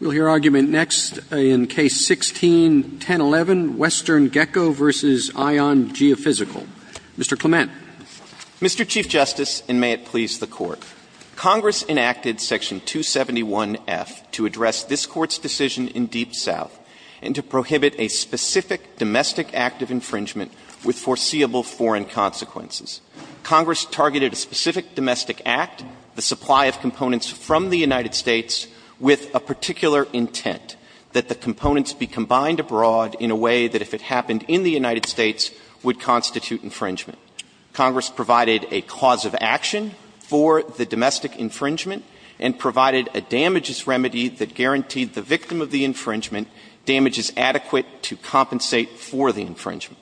We'll hear argument next in Case 16-1011, WesternGeco v. ION Geophysical. Mr. Clement. Mr. Chief Justice, and may it please the Court, Congress enacted Section 271F to address this Court's decision in Deep South and to prohibit a specific domestic act of infringement with foreseeable foreign consequences. Congress targeted a specific domestic act, the supply of components from the United States, with a particular intent, that the components be combined abroad in a way that if it happened in the United States would constitute infringement. Congress provided a cause of action for the domestic infringement and provided a damages remedy that guaranteed the victim of the infringement damages adequate to compensate for the infringement.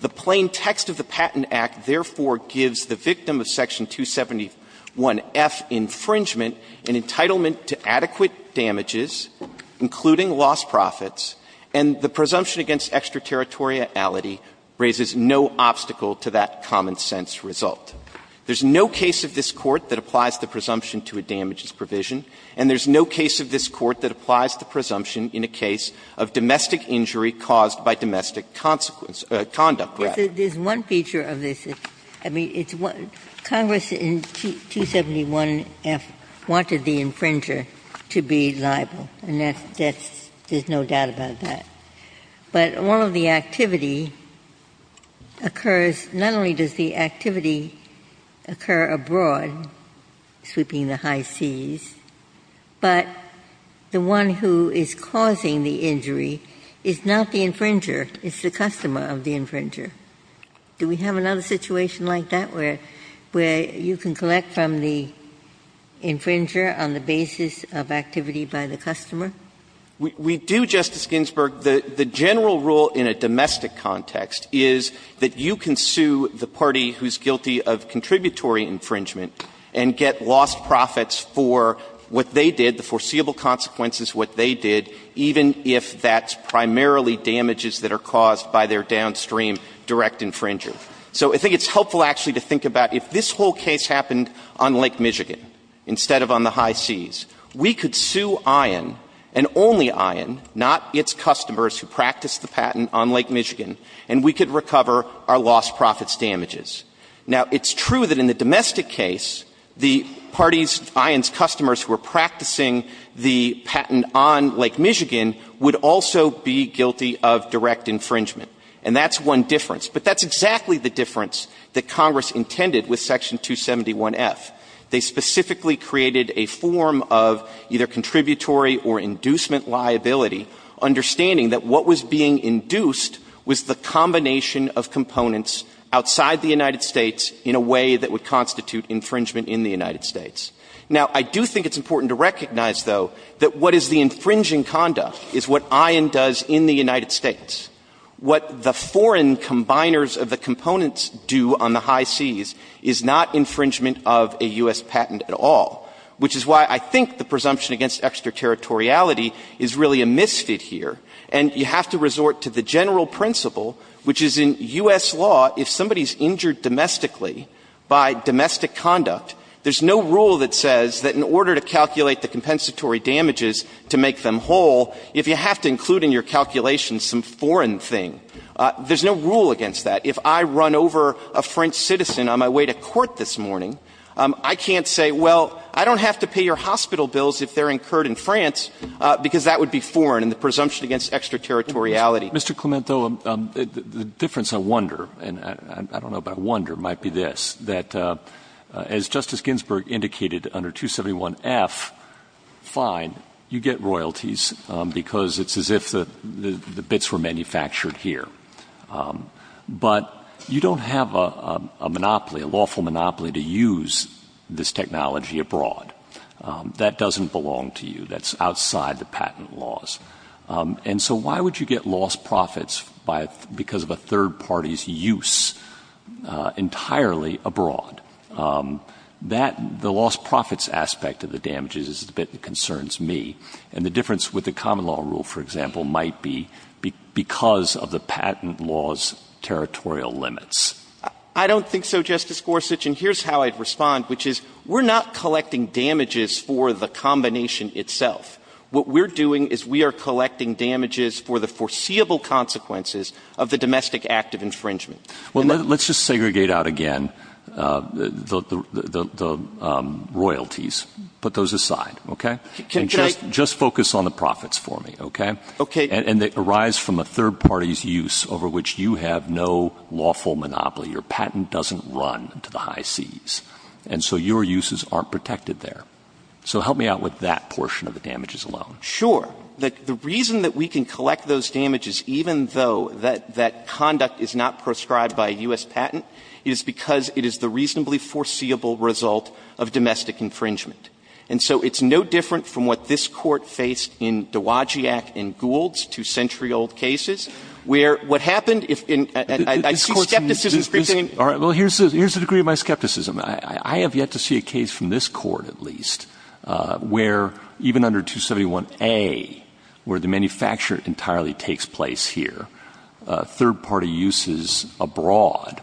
The plain text of the Patent Procedure 171F infringement, an entitlement to adequate damages, including lost profits, and the presumption against extraterritoriality, raises no obstacle to that common-sense result. There's no case of this Court that applies the presumption to a damages provision, and there's no case of this Court that applies the presumption in a case of domestic injury caused by domestic consequence or conduct. Ginsburg. There's one feature of this. I mean, it's what Congress in 271F wanted the infringer to be liable, and that's no doubt about that. But all of the activity occurs, not only does the activity occur abroad, sweeping the high seas, but the one who is causing the injury is not the infringer, it's the customer of the infringer. Do we have another situation like that where you can collect from the infringer on the basis of activity by the customer? We do, Justice Ginsburg. The general rule in a domestic context is that you can sue the party who's guilty of contributory infringement and get lost profits for what they did, the foreseeable consequences of what they did, even if that's primarily damages that are caused by their downstream direct infringer. So I think it's helpful, actually, to think about if this whole case happened on Lake Michigan instead of on the high seas, we could sue ION, and only ION, not its customers who practiced the patent on Lake Michigan, and we could recover our lost profits damages. Now, it's true that in the domestic case, the party's ION's customers who were practicing the patent on Lake Michigan were the infringers, and that's one difference. But that's exactly the difference that Congress intended with Section 271F. They specifically created a form of either contributory or inducement liability, understanding that what was being induced was the combination of components outside the United States in a way that would constitute infringement in the United States. Now, I do think it's important to recognize, though, that what is the infringing conduct is what ION does in the United States. What the foreign combiners of the components do on the high seas is not infringement of a U.S. patent at all, which is why I think the presumption against extraterritoriality is really a misfit here. And you have to resort to the general principle, which is in U.S. law, if somebody's injured domestically by domestic conduct, there's no rule that says that in order to calculate the compensatory damages to make them whole, if you have to include in your calculations some foreign thing, there's no rule against that. If I run over a French citizen on my way to court this morning, I can't say, well, I don't have to pay your hospital bills if they're incurred in France, because that would be foreign, and the presumption against extraterritoriality. Mr. Clement, though, the difference I wonder, and I don't know, but I wonder might be this, that as Justice Ginsburg indicated under 271F, fine, you get royalties because it's as if the bits were manufactured here. But you don't have a monopoly, a lawful monopoly, to use this technology abroad. That doesn't belong to you. That's you get lost profits because of a third party's use entirely abroad. That, the lost profits aspect of the damages is the bit that concerns me. And the difference with the common law rule, for example, might be because of the patent law's territorial limits. I don't think so, Justice Gorsuch. And here's how I'd respond, which is we're not collecting damages for the combination itself. What we're doing is we are collecting damages for the foreseeable consequences of the domestic act of infringement. Well, let's just segregate out again the royalties. Put those aside, okay? Can I — Just focus on the profits for me, okay? Okay. And they arise from a third party's use over which you have no lawful monopoly. Your patent doesn't run to the high seas. And so your uses aren't protected there. So help me out with that portion of the damages alone. Sure. The reason that we can collect those damages, even though that conduct is not proscribed by a U.S. patent, is because it is the reasonably foreseeable result of domestic infringement. And so it's no different from what this Court faced in Dowagiac and Gould's two-century-old cases, where what happened if — I see skepticism spreading. All right. Well, here's the degree of my skepticism. I have yet to see a case from this Court, at least, where even under 271A, where the manufacturer entirely takes place here, third-party uses abroad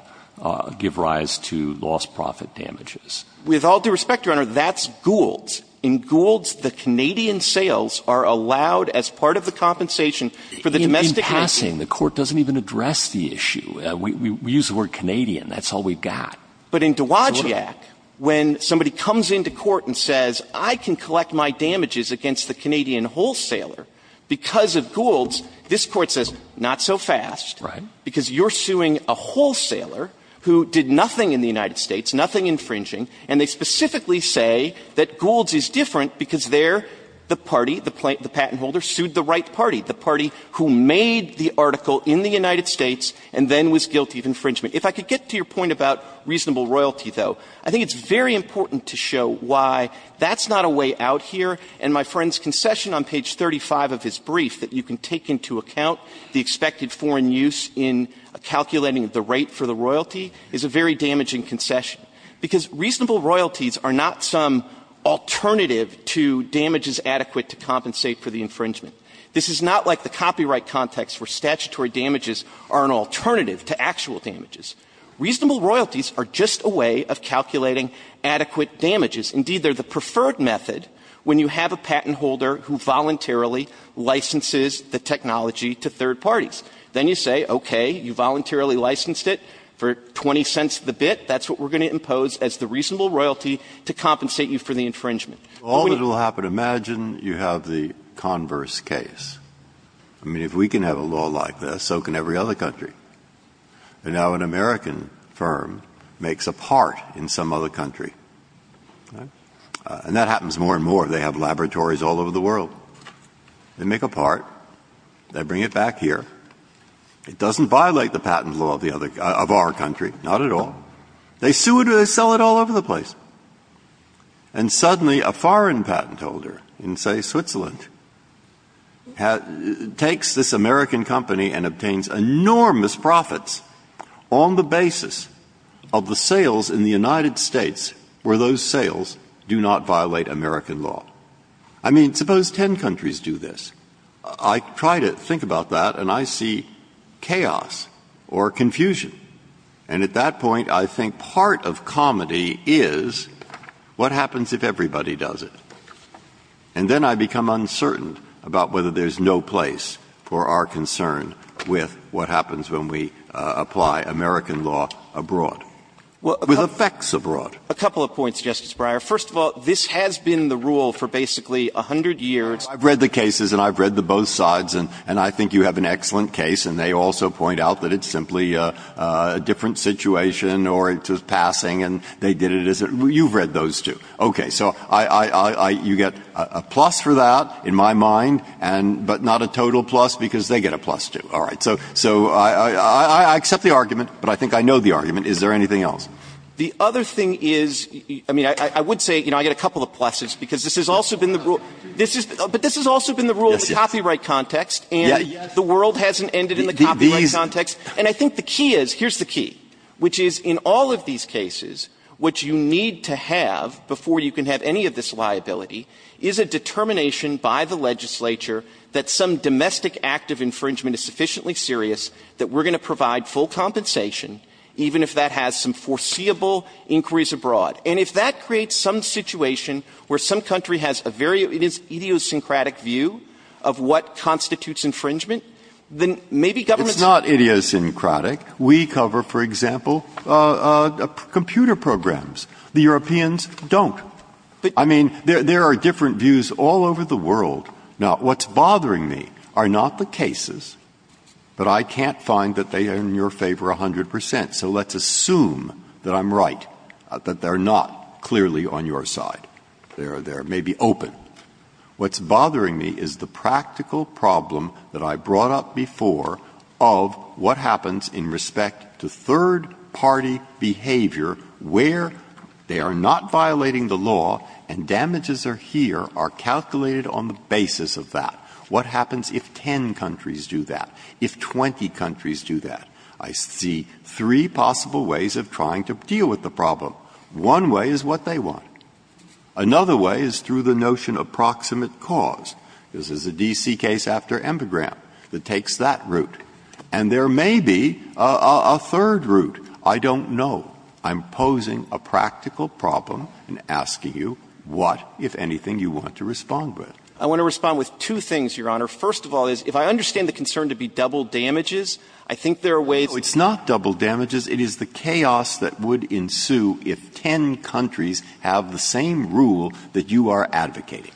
give rise to lost profit damages. With all due respect, Your Honor, that's Gould's. In Gould's, the Canadian sales are allowed as part of the compensation for the domestic — In passing, the Court doesn't even address the issue. We use the word Canadian. That's all we've got. But in Dowagiac, when somebody comes into court and says, I can collect my damages against the Canadian wholesaler because of Gould's, this Court says, not so fast, because you're suing a wholesaler who did nothing in the United States, nothing infringing, and they specifically say that Gould's is different because they're the party, the patent holder sued the right party, the party who made the article in the United States and then was guilty of infringement. If I could get to your point about reasonable royalty, though, I think it's very important to show why that's not a way out here. And my friend's concession on page 35 of his brief that you can take into account the expected foreign use in calculating the rate for the royalty is a very damaging concession, because reasonable royalties are not some alternative to damages adequate to compensate for the infringement. This is not like the copyright context where statutory damages are an alternative to actual damages. Reasonable royalties are just a way of calculating adequate damages. Indeed, they're the preferred method when you have a patent holder who voluntarily licenses the technology to third parties. Then you say, okay, you voluntarily licensed it for 20 cents the bit, that's what we're going to impose as the reasonable royalty to compensate you for the infringement. Breyer. All that will happen, imagine you have the converse case. I mean, if we can have a law like this, so can every other country. Now, an American firm makes a part in some other country. And that happens more and more. They have laboratories all over the world. They make a part. They bring it back here. It doesn't violate the patent law of our country, not at all. They sue it or they sell it all over the place. And suddenly, a foreign patent holder in, say, Switzerland, takes this American company and obtains enormous profits on the basis of the sales in the United States where those sales do not violate American law. I mean, suppose ten countries do this. I try to think about that, and I see chaos or confusion. And at that point, I think part of comedy is what happens if everybody does it. And then I become uncertain about whether there's no place for our concern with what happens when we apply American law abroad, with effects abroad. A couple of points, Justice Breyer. First of all, this has been the rule for basically a hundred years. I've read the cases, and I've read the both sides, and I think you have an excellent case, and they also point out that it's simply a different situation or it's a passing thing, and they did it as a — you've read those two. Okay. So I — you get a plus for that, in my mind, and — but not a total plus, because they get a plus, too. All right. So I accept the argument, but I think I know the argument. Is there anything else? The other thing is — I mean, I would say, you know, I get a couple of pluses, because this has also been the rule — this is — but this has also been the rule in the copyright context, and the world hasn't ended in the copyright context. And I think the key is — here's the key, which is, in all of these cases, what you need to have before you can have any of this liability is a determination by the legislature that some domestic act of infringement is sufficiently serious, that we're going to provide full compensation, even if that has some foreseeable inquiries abroad. And if that creates some situation where some country has a very idiosyncratic view of what constitutes infringement, then maybe government's — I mean, we cover, for example, computer programs. The Europeans don't. I mean, there are different views all over the world. Now, what's bothering me are not the cases, but I can't find that they are in your favor 100 percent. So let's assume that I'm right, that they're not clearly on your side. They're maybe open. What's bothering me is the practical problem that I brought up before of what happens in respect to third-party behavior where they are not violating the law and damages are here, are calculated on the basis of that. What happens if 10 countries do that, if 20 countries do that? I see three possible ways of trying to deal with the problem. One way is what they want. Another way is through the notion of proximate cause. This is a D.C. case after Embegram that takes that route. And there may be a third route. I don't know. I'm posing a practical problem and asking you what, if anything, you want to respond with. I want to respond with two things, Your Honor. First of all is, if I understand the concern to be double damages, I think there are ways to do that. No, it's not double damages. It is the chaos that would ensue if 10 countries have the same rule that you are advocating.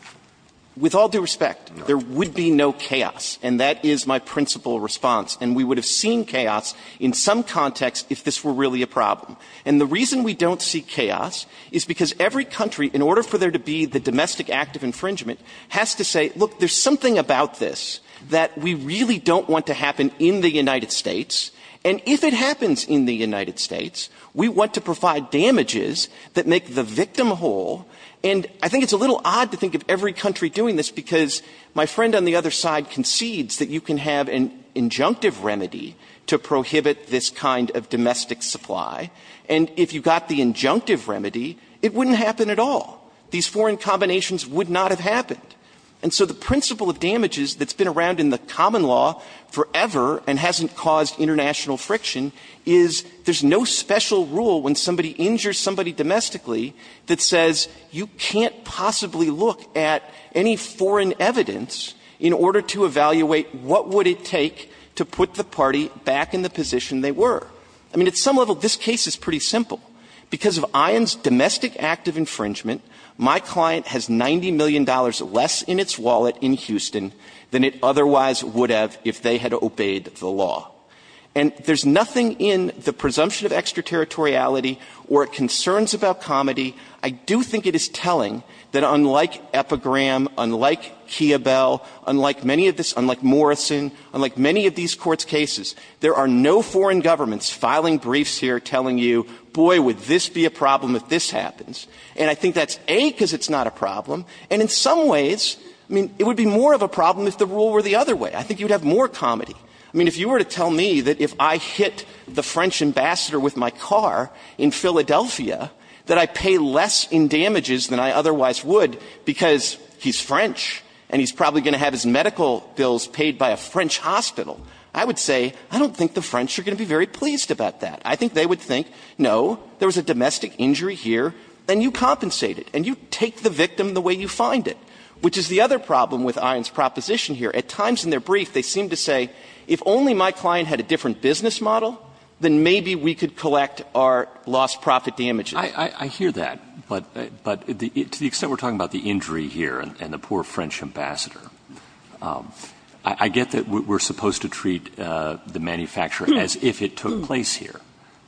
With all due respect, there would be no chaos. And that is my principal response. And we would have seen chaos in some context if this were really a problem. And the reason we don't see chaos is because every country, in order for there to be the domestic act of infringement, has to say, look, there's something about this that we really don't want to happen in the United States. And if it happens in the United States, we want to provide damages that make the victim whole. And I think it's a little odd to think of every country doing this because my friend on the other side concedes that you can have an injunctive remedy to prohibit this kind of domestic supply. And if you got the injunctive remedy, it wouldn't happen at all. These foreign combinations would not have happened. And so the principle of damages that's been around in the common law forever and hasn't caused international friction is there's no special rule when somebody injures somebody domestically that says you can't possibly look at any foreign evidence in order to evaluate what would it take to put the party back in the position they were. I mean, at some level, this case is pretty simple. Because of ION's domestic act of infringement, my client has $90 million less in its wallet in Houston than it otherwise would have if they had obeyed the law. And there's nothing in the presumption of extraterritoriality or concerns about comedy, I do think it is telling, that unlike Epigram, unlike Kiobel, unlike many of this, unlike Morrison, unlike many of these Court's cases, there are no foreign governments filing briefs here telling you, boy, would this be a problem if this happens. And I think that's, A, because it's not a problem, and in some ways, I mean, it would be more of a problem if the rule were the other way. I think you would have more comedy. I mean, if you were to tell me that if I hit the French ambassador with my car in Philadelphia, that I pay less in damages than I otherwise would because he's French and he's probably going to have his medical bills paid by a French hospital, I would say, I don't think the French are going to be very pleased about that. I think they would think, no, there was a domestic injury here, and you compensate it, and you take the victim the way you find it, which is the other problem with ION's proposition here. At times in their brief, they seem to say, if only my client had a different business model, then maybe we could collect our lost profit damages. I hear that, but to the extent we're talking about the injury here and the poor French ambassador, I get that we're supposed to treat the manufacturer as if it took place here,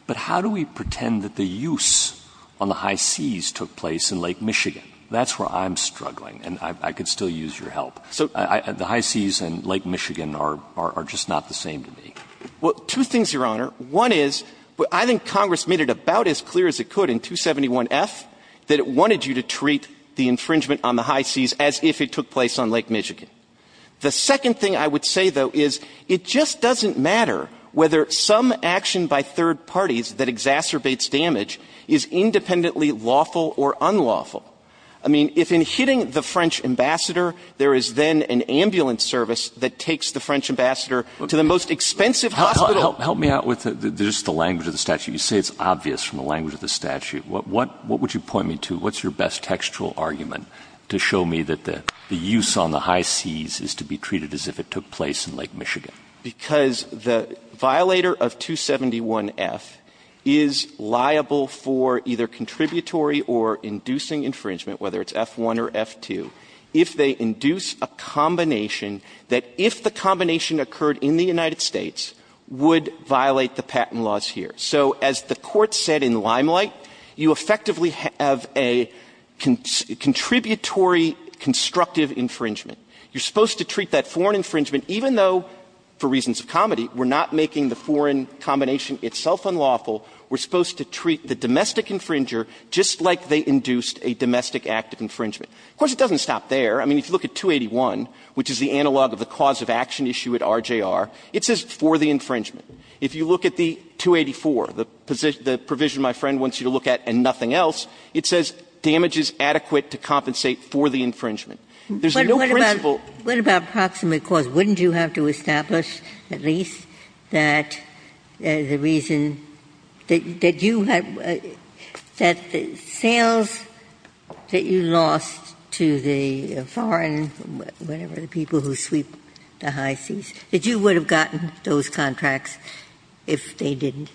but how do we pretend that the use on the high seas took place in Lake Michigan? That's where I'm struggling, and I could still use your help. The high seas and Lake Michigan are just not the same to me. Well, two things, Your Honor. One is, I think Congress made it about as clear as it could in 271F that it wanted you to treat the infringement on the high seas as if it took place on Lake Michigan. The second thing I would say, though, is it just doesn't matter whether some action by third parties that exacerbates damage is independently lawful or unlawful. I mean, if in hitting the French ambassador, there is then an ambulance service that takes the French ambassador to the most expensive hospital. Help me out with just the language of the statute. You say it's obvious from the language of the statute. What would you point me to? What's your best textual argument to show me that the use on the high seas is to be treated as if it took place in Lake Michigan? Because the violator of 271F is liable for either contributory or inducing infringement whether it's F1 or F2 if they induce a combination that if the combination occurred in the United States would violate the patent laws here. So as the Court said in Limelight, you effectively have a contributory constructive infringement. You're supposed to treat that foreign infringement even though, for reasons of comedy, we're not making the foreign combination itself unlawful. We're supposed to treat the domestic infringer just like they induced a domestic act of infringement. Of course, it doesn't stop there. I mean, if you look at 281, which is the analog of the cause of action issue at RJR, it says for the infringement. If you look at the 284, the provision my friend wants you to look at and nothing else, it says damage is adequate to compensate for the infringement. There's no principle. Ginsburg. What about proximate cause? Wouldn't you have to establish at least that the reason that you had the sales that you lost to the foreign, whatever the people who sweep the high seas, that you would have gotten those contracts if they didn't?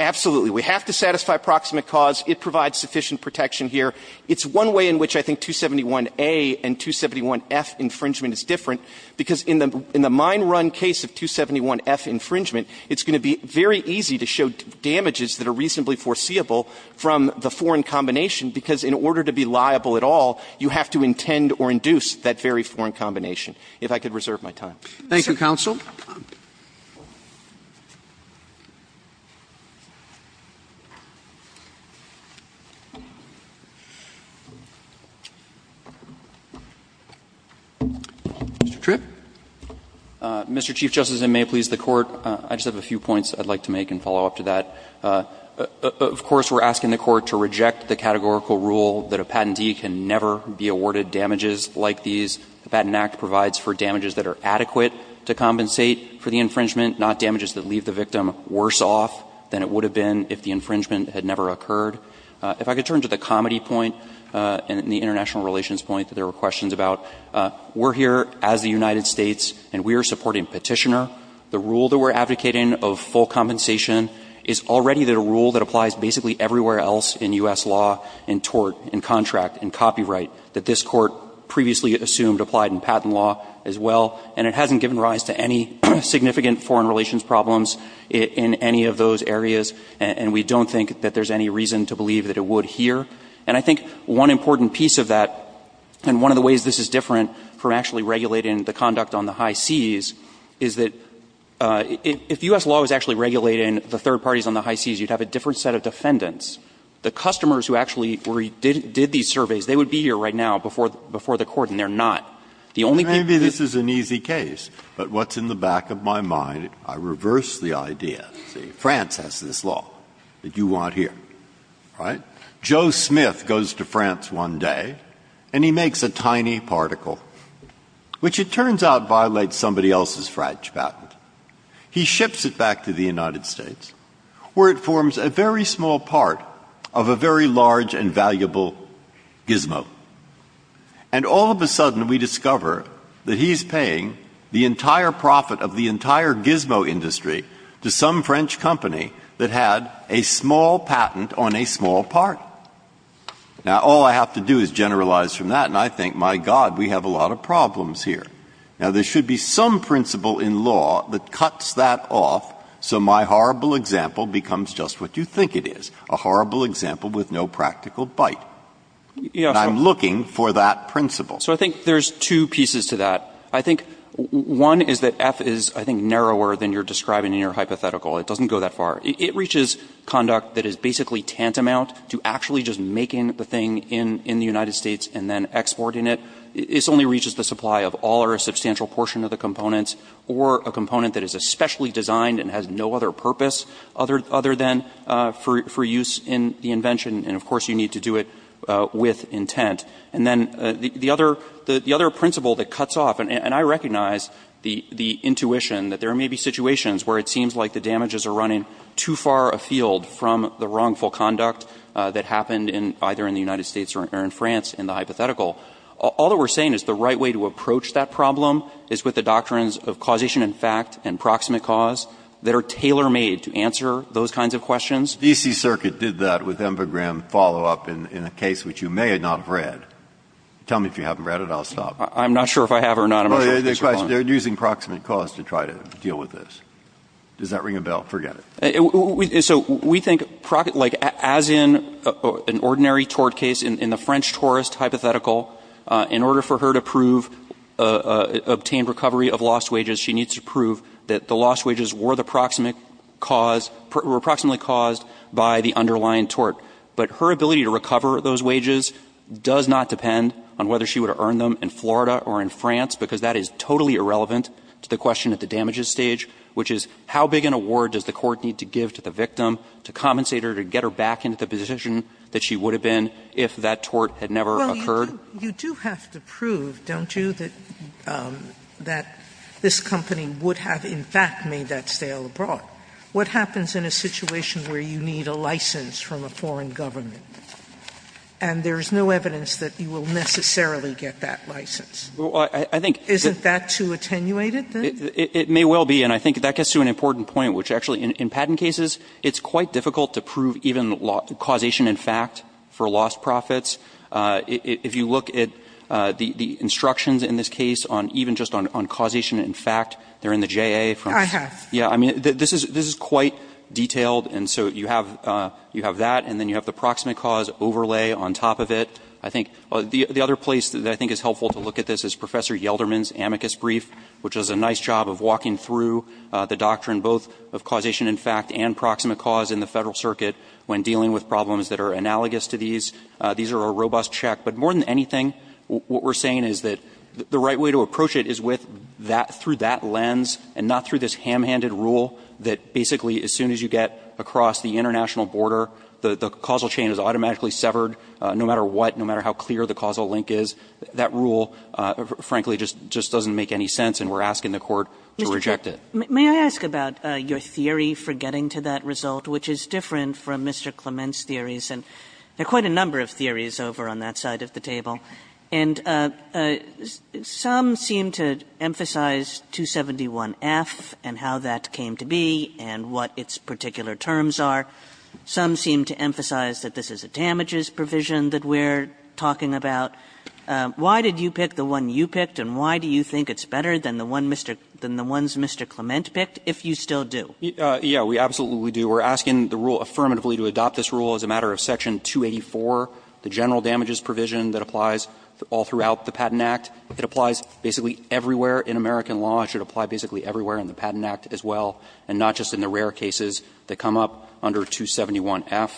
Absolutely. We have to satisfy proximate cause. It provides sufficient protection here. It's one way in which I think 271A and 271F infringement is different, because in the mine run case of 271F infringement, it's going to be very easy to show damages that are reasonably foreseeable from the foreign combination, because in order to be liable at all, you have to intend or induce that very foreign combination, if I could reserve my time. Thank you, counsel. Mr. Tripp. Mr. Chief Justice, and may it please the Court, I just have a few points I'd like to make and follow up to that. Of course, we're asking the Court to reject the categorical rule that a patentee can never be awarded damages like these. The Patent Act provides for damages that are adequate to compensate for the infringement, not damages that leave the victim worse off than it would have been if the infringement had never occurred. If I could turn to the comedy point and the international relations point that there were questions about, we're here as the United States, and we are supporting petitioner. The rule that we're advocating of full compensation is already the rule that applies basically everywhere else in U.S. law, in tort, in contract, in copyright, that this Court previously assumed applied in patent law as well, and it hasn't given rise to any significant foreign relations problems in any of those areas, and we don't think that there's any reason to believe that it would here. And I think one important piece of that, and one of the ways this is different from actually regulating the conduct on the high seas, is that if U.S. law was actually regulating the third parties on the high seas, you'd have a different set of defendants. The customers who actually did these surveys, they would be here right now before the Court, and they're not. The only people who don't do that are the third parties. Breyer. Maybe this is an easy case, but what's in the back of my mind, I reverse the idea. See, France has this law that you want here, right? Joe Smith goes to France one day, and he makes a tiny particle, which it turns out violates somebody else's French patent. He ships it back to the United States, where it forms a very small part of a very large and valuable gizmo. And all of a sudden, we discover that he's paying the entire profit of the entire gizmo industry to some French company that had a small patent on a small part. Now, all I have to do is generalize from that, and I think, my God, we have a lot of problems here. Now, there should be some principle in law that cuts that off, so my horrible example becomes just what you think it is, a horrible example with no practical bite. And I'm looking for that principle. So I think there's two pieces to that. I think one is that F is, I think, narrower than you're describing in your hypothetical. It doesn't go that far. It reaches conduct that is basically tantamount to actually just making the thing in the United States and then exporting it. It only reaches the supply of all or a substantial portion of the components or a component that is especially designed and has no other purpose other than for use in the invention. And of course, you need to do it with intent. And then the other principle that cuts off, and I recognize the intuition that there may be situations where it seems like the damages are running too far afield from the wrongful conduct that happened in either in the United States or in France in the case of the DC Circuit, but it's not the case. All that we're saying is the right way to approach that problem is with the doctrines of causation and fact and proximate cause that are tailor-made to answer those kinds of questions. Breyer. DC Circuit did that with Enver Graham follow-up in a case which you may not have read. Tell me if you haven't read it. I'll stop. I'm not sure if I have or not. They're using proximate cause to try to deal with this. Does that ring a bell? Forget it. So we think, like, as in an ordinary tort case, in the French tourist hypothetical, in order for her to prove, obtain recovery of lost wages, she needs to prove that the lost wages were the proximate cause, were proximately caused by the underlying tort. But her ability to recover those wages does not depend on whether she would have earned them in Florida or in France, because that is totally irrelevant to the question at the damages stage, which is how big an award does the court need to give to the victim to compensate her, to get her back into the position that she would have been if that tort had never occurred? Sotomayor, you do have to prove, don't you, that this company would have, in fact, made that sale abroad. What happens in a situation where you need a license from a foreign government and there is no evidence that you will necessarily get that license? Well, I think that's too attenuated. It may well be, and I think that gets to an important point, which actually, in patent cases, it's quite difficult to prove even causation in fact for lost profits. If you look at the instructions in this case on even just on causation in fact, they're in the J.A. from. I have. Yeah. I mean, this is quite detailed, and so you have that, and then you have the proximate cause overlay on top of it. I think the other place that I think is helpful to look at this is Professor Smith does a nice job of walking through the doctrine both of causation in fact and proximate cause in the Federal Circuit when dealing with problems that are analogous to these. These are a robust check, but more than anything, what we're saying is that the right way to approach it is with that, through that lens and not through this ham-handed rule that basically as soon as you get across the international border, the causal chain is automatically severed no matter what, no matter how clear the causal link is. That rule, frankly, just doesn't make any sense, and we're asking the Court to reject it. Kagan. May I ask about your theory for getting to that result, which is different from Mr. Clement's theories? And there are quite a number of theories over on that side of the table, and some seem to emphasize 271F and how that came to be and what its particular terms are. Some seem to emphasize that this is a damages provision that we're talking about. Why did you pick the one you picked, and why do you think it's better than the one Mr. Mr. Clement picked, if you still do? Yeah, we absolutely do. We're asking the rule affirmatively to adopt this rule as a matter of Section 284, the general damages provision that applies all throughout the Patent Act. It applies basically everywhere in American law. It should apply basically everywhere in the Patent Act as well, and not just in the rare cases that come up under 271F.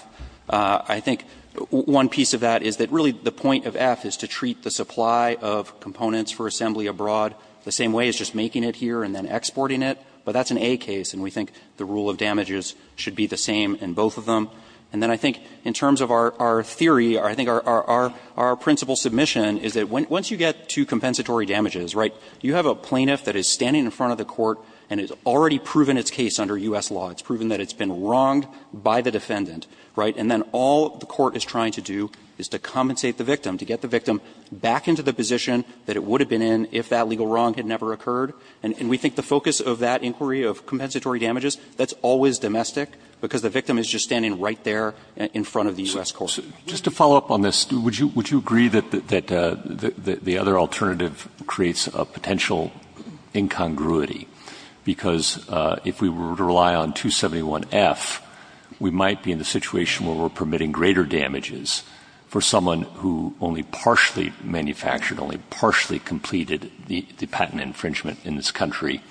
I think one piece of that is that really the point of F is to treat the supply of components for assembly abroad the same way as just making it here and then exporting it. But that's an A case, and we think the rule of damages should be the same in both of them. And then I think in terms of our theory, I think our principal submission is that once you get to compensatory damages, right, you have a plaintiff that is standing in front of the court and has already proven its case under U.S. law. It's proven that it's been wronged by the defendant. Right? And then all the court is trying to do is to compensate the victim, to get the victim back into the position that it would have been in if that legal wrong had never occurred. And we think the focus of that inquiry of compensatory damages, that's always domestic, because the victim is just standing right there in front of the U.S. court. Roberts, just to follow up on this, would you agree that the other alternative creates a potential incongruity, because if we were to rely on 271F, we might be in a situation where we're permitting greater damages for someone who only partially manufactured, only partially completed the patent infringement in this country,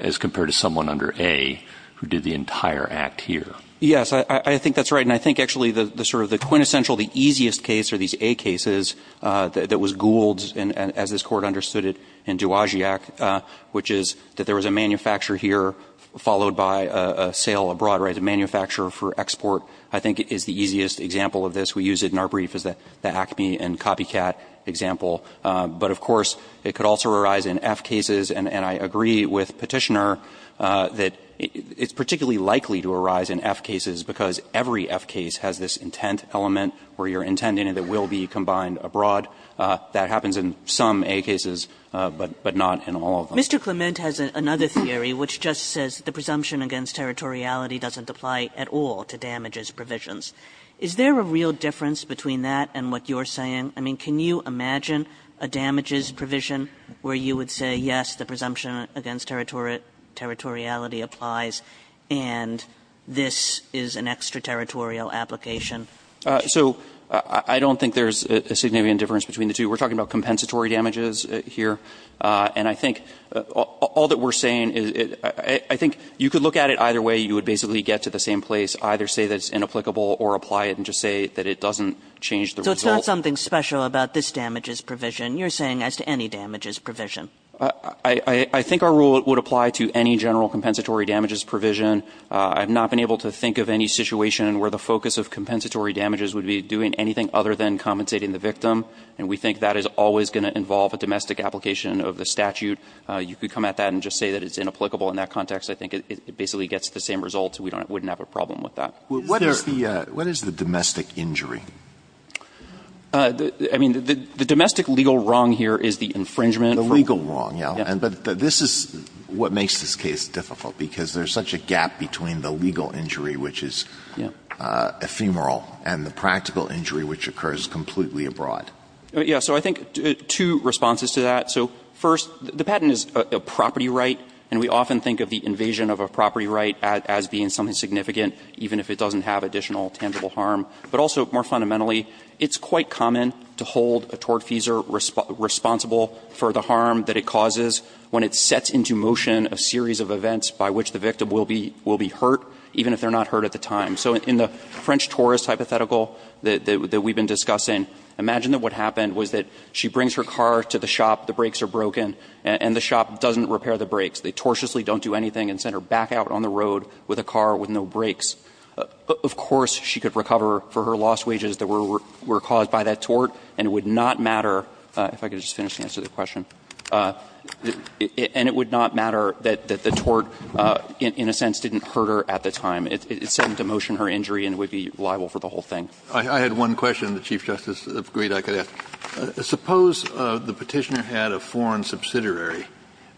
as compared to someone under A who did the entire act here? Yes, I think that's right. And I think actually the sort of the quintessential, the easiest case are these A cases that was ghouled, as this Court understood it, in Duagiac, which is that there was a manufacturer here followed by a sale abroad, right, a manufacturer for export I think is the easiest example of this. We use it in our brief as the ACME and copycat example. But of course, it could also arise in F cases. And I agree with Petitioner that it's particularly likely to arise in F cases, because every F case has this intent element where you're intending that it will be combined abroad. That happens in some A cases, but not in all of them. Mr. Clement has another theory, which just says the presumption against territoriality doesn't apply at all to damages provisions. Is there a real difference between that and what you're saying? I mean, can you imagine a damages provision where you would say, yes, the presumption against territoriality applies, and this is an extraterritorial application? So I don't think there's a significant difference between the two. We're talking about compensatory damages here. And I think all that we're saying is I think you could look at it either way. You would basically get to the same place, either say that it's inapplicable or apply it and just say that it doesn't change the result. So it's not something special about this damages provision. You're saying as to any damages provision. I think our rule would apply to any general compensatory damages provision. I've not been able to think of any situation where the focus of compensatory damages would be doing anything other than compensating the victim. And we think that is always going to involve a domestic application of the statute. You could come at that and just say that it's inapplicable in that context. I think it basically gets the same results. We wouldn't have a problem with that. What is the domestic injury? I mean, the domestic legal wrong here is the infringement. The legal wrong, yes. But this is what makes this case difficult, because there's such a gap between the legal injury, which is ephemeral, and the practical injury, which occurs completely abroad. Yes. So I think two responses to that. So first, the patent is a property right, and we often think of the invasion of a property right as being something significant, even if it doesn't have additional tangible harm. But also, more fundamentally, it's quite common to hold a tortfeasor responsible for the harm that it causes when it sets into motion a series of events by which the victim will be hurt, even if they're not hurt at the time. So in the French tourist hypothetical that we've been discussing, imagine that what breaks are broken, and the shop doesn't repair the brakes. They tortuously don't do anything and send her back out on the road with a car with no brakes. Of course, she could recover for her lost wages that were caused by that tort, and it would not matter – if I could just finish and answer the question – and it would not matter that the tort, in a sense, didn't hurt her at the time. It set into motion her injury, and it would be liable for the whole thing. Kennedy, I had one question the Chief Justice agreed I could ask. Suppose the Petitioner had a foreign subsidiary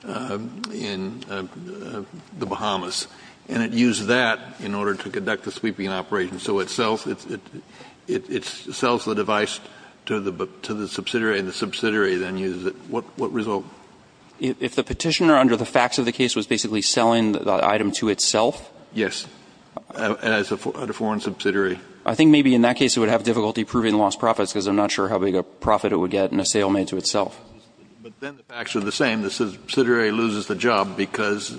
in the Bahamas, and it used that in order to conduct the sweeping operation. So it sells the device to the subsidiary, and the subsidiary then uses it. What result? If the Petitioner, under the facts of the case, was basically selling the item to itself? Yes, as a foreign subsidiary. I think maybe in that case it would have difficulty proving lost profits, because I'm not sure how big a profit it would get in a sale made to itself. But then the facts are the same. The subsidiary loses the job because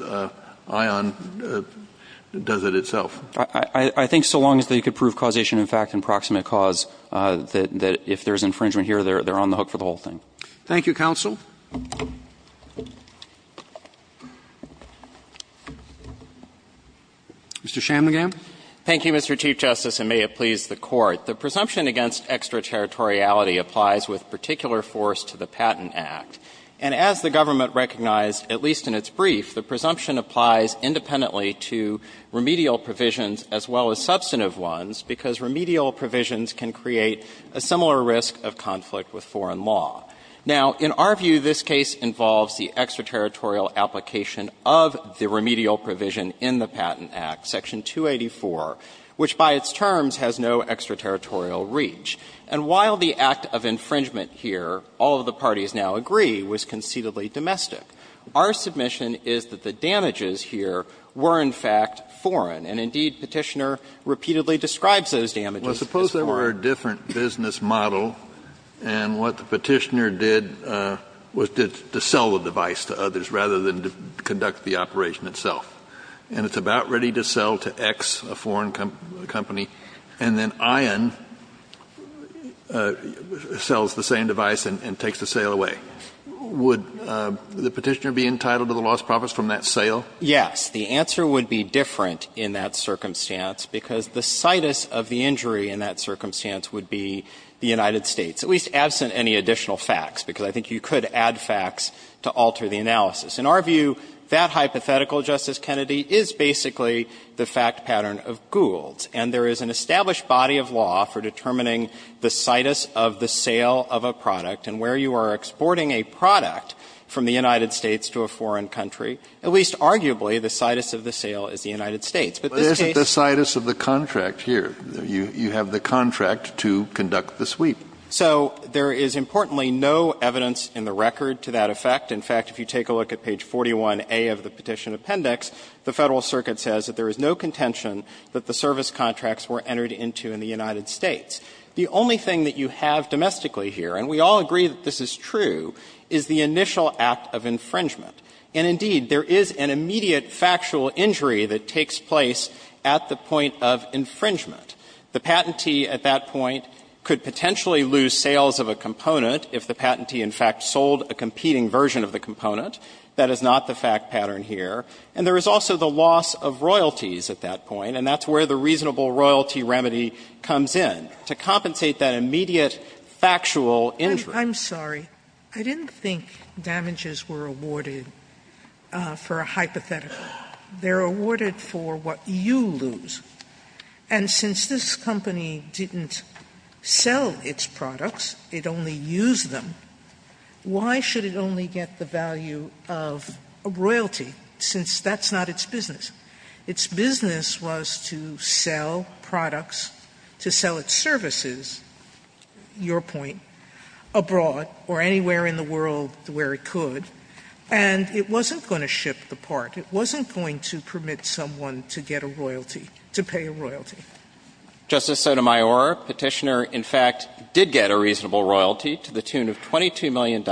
ION does it itself. I think so long as they could prove causation of fact and proximate cause, that if there's infringement here, they're on the hook for the whole thing. Thank you, Counsel. Mr. Shamlegam. Thank you, Mr. Chief Justice, and may it please the Court. The presumption against extraterritoriality applies with particular force to the Patent Act. And as the government recognized, at least in its brief, the presumption applies independently to remedial provisions as well as substantive ones, because remedial provisions can create a similar risk of conflict with foreign law. Now, in our view, this case involves the extraterritorial application of the remedial provision in the Patent Act, Section 284, which by its terms has no extraterritorial reach. And while the act of infringement here, all of the parties now agree, was conceitedly domestic, our submission is that the damages here were, in fact, foreign. And indeed, Petitioner repeatedly describes those damages as foreign. Kennedy, Well, suppose there were a different business model, and what the Petitioner did was to sell the device to others rather than to conduct the operation itself. And it's about ready to sell to X, a foreign company, and then Ion sells the same device and takes the sale away. Would the Petitioner be entitled to the lost profits from that sale? Yes. The answer would be different in that circumstance, because the situs of the injury in that circumstance would be the United States, at least absent any additional In our view, that hypothetical, Justice Kennedy, is basically the fact pattern of Gould's. And there is an established body of law for determining the situs of the sale of a product. And where you are exporting a product from the United States to a foreign country, at least arguably the situs of the sale is the United States. But this case But isn't the situs of the contract here? You have the contract to conduct the sweep. So there is, importantly, no evidence in the record to that effect. In fact, if you take a look at page 41A of the Petition Appendix, the Federal Circuit says that there is no contention that the service contracts were entered into in the United States. The only thing that you have domestically here, and we all agree that this is true, is the initial act of infringement. And indeed, there is an immediate factual injury that takes place at the point of infringement. The patentee at that point could potentially lose sales of a component if the patentee in fact sold a competing version of the component. That is not the fact pattern here. And there is also the loss of royalties at that point, and that's where the reasonable royalty remedy comes in, to compensate that immediate factual injury. Sotomayor, I'm sorry. I didn't think damages were awarded for a hypothetical. They are awarded for what you lose. And since this company didn't sell its products, it only used them, why should it only get the value of a royalty, since that's not its business? Its business was to sell products, to sell its services, your point, abroad or anywhere in the world where it could, and it wasn't going to ship the part. It wasn't going to permit someone to get a royalty, to pay a royalty. Justice Sotomayor, Petitioner in fact did get a reasonable royalty to the tune of $22 million,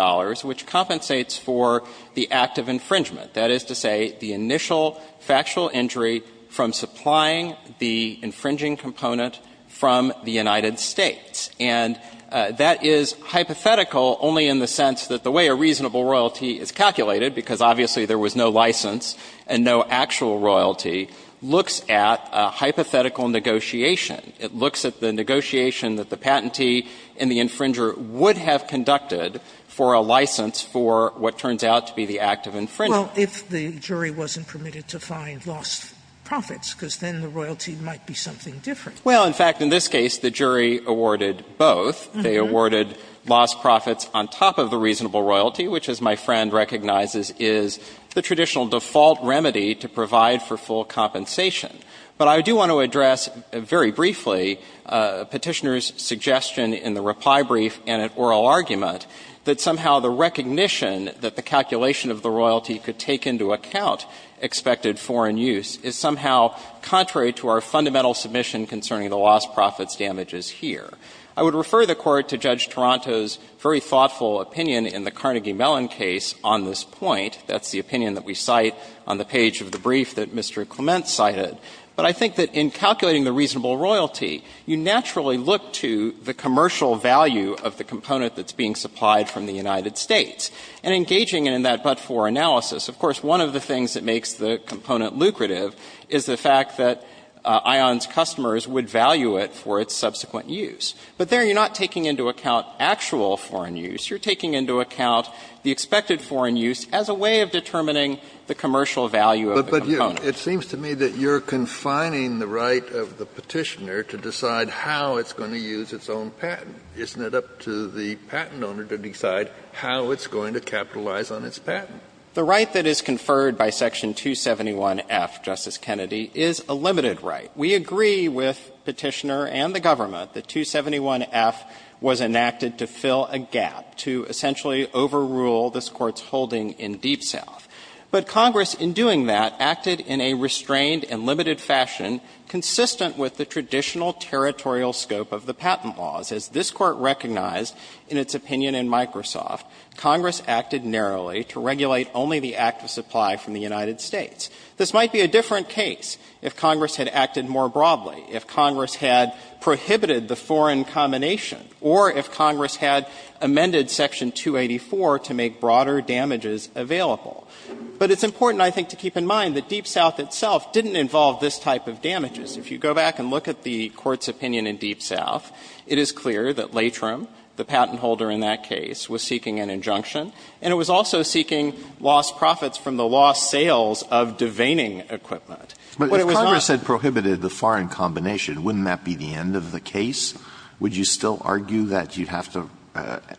which compensates for the act of infringement. That is to say, the initial factual injury from supplying the infringing component from the United States. And that is hypothetical only in the sense that the way a reasonable royalty is calculated, because obviously there was no license and no actual royalty, looks at a hypothetical negotiation. It looks at the negotiation that the patentee and the infringer would have conducted for a license for what turns out to be the act of infringement. Sotomayor, if the jury wasn't permitted to find lost profits, because then the royalty might be something different. Well, in fact, in this case, the jury awarded both. The only thing that the court recognizes is the traditional default remedy to provide for full compensation. But I do want to address very briefly Petitioner's suggestion in the reply brief and in oral argument that somehow the recognition that the calculation of the royalty could take into account expected foreign use is somehow contrary to our fundamental submission concerning the lost profits damages here. I would refer the Court to Judge Toronto's very thoughtful opinion in the Carnegie-Mellon case on this point. That's the opinion that we cite on the page of the brief that Mr. Clement cited. But I think that in calculating the reasonable royalty, you naturally look to the commercial value of the component that's being supplied from the United States. And engaging in that but-for analysis, of course, one of the things that makes the component lucrative is the fact that ION's customers would value it for its subsequent use. But there, you're not taking into account actual foreign use. You're taking into account the expected foreign use as a way of determining the commercial value of the component. Kennedy, it seems to me that you're confining the right of the Petitioner to decide how it's going to use its own patent. Isn't it up to the patent owner to decide how it's going to capitalize on its patent? The right that is conferred by Section 271F, Justice Kennedy, is a limited right. We agree with Petitioner and the government that 271F was enacted to fill a gap, to essentially overrule this Court's holding in Deep South. But Congress, in doing that, acted in a restrained and limited fashion, consistent with the traditional territorial scope of the patent laws. As this Court recognized in its opinion in Microsoft, Congress acted narrowly to regulate only the active supply from the United States. This might be a different case if Congress had acted more broadly, if Congress had prohibited the foreign combination, or if Congress had amended Section 284 to make broader damages available. But it's important, I think, to keep in mind that Deep South itself didn't involve this type of damages. If you go back and look at the Court's opinion in Deep South, it is clear that Latrim, the patent holder in that case, was seeking an injunction, and it was also seeking lost profits from the lost sales of deveining equipment. But it was not the case that Congress had prohibited the foreign combination. Wouldn't that be the end of the case? Would you still argue that you have to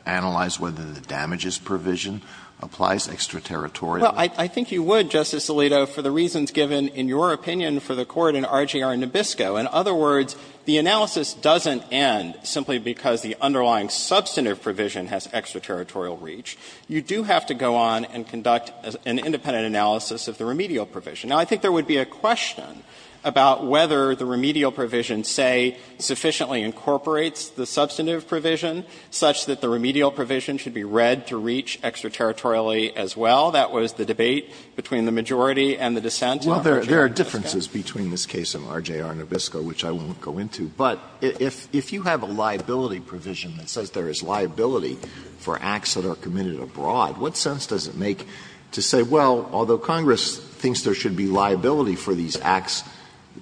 analyze whether the damages provision applies extraterritorially? Well, I think you would, Justice Alito, for the reasons given in your opinion for the Court in RGR Nabisco. In other words, the analysis doesn't end simply because the underlying substantive provision has extraterritorial reach. You do have to go on and conduct an independent analysis of the remedial provision. Now, I think there would be a question about whether the remedial provision, say, sufficiently incorporates the substantive provision such that the remedial provision should be read to reach extraterritorially as well. That was the debate between the majority and the dissent in RGR Nabisco. Alito, there are differences between this case in RGR Nabisco, which I won't go into. But if you have a liability provision that says there is liability for acts that are committed abroad, what sense does it make to say, well, although Congress thinks there should be liability for these acts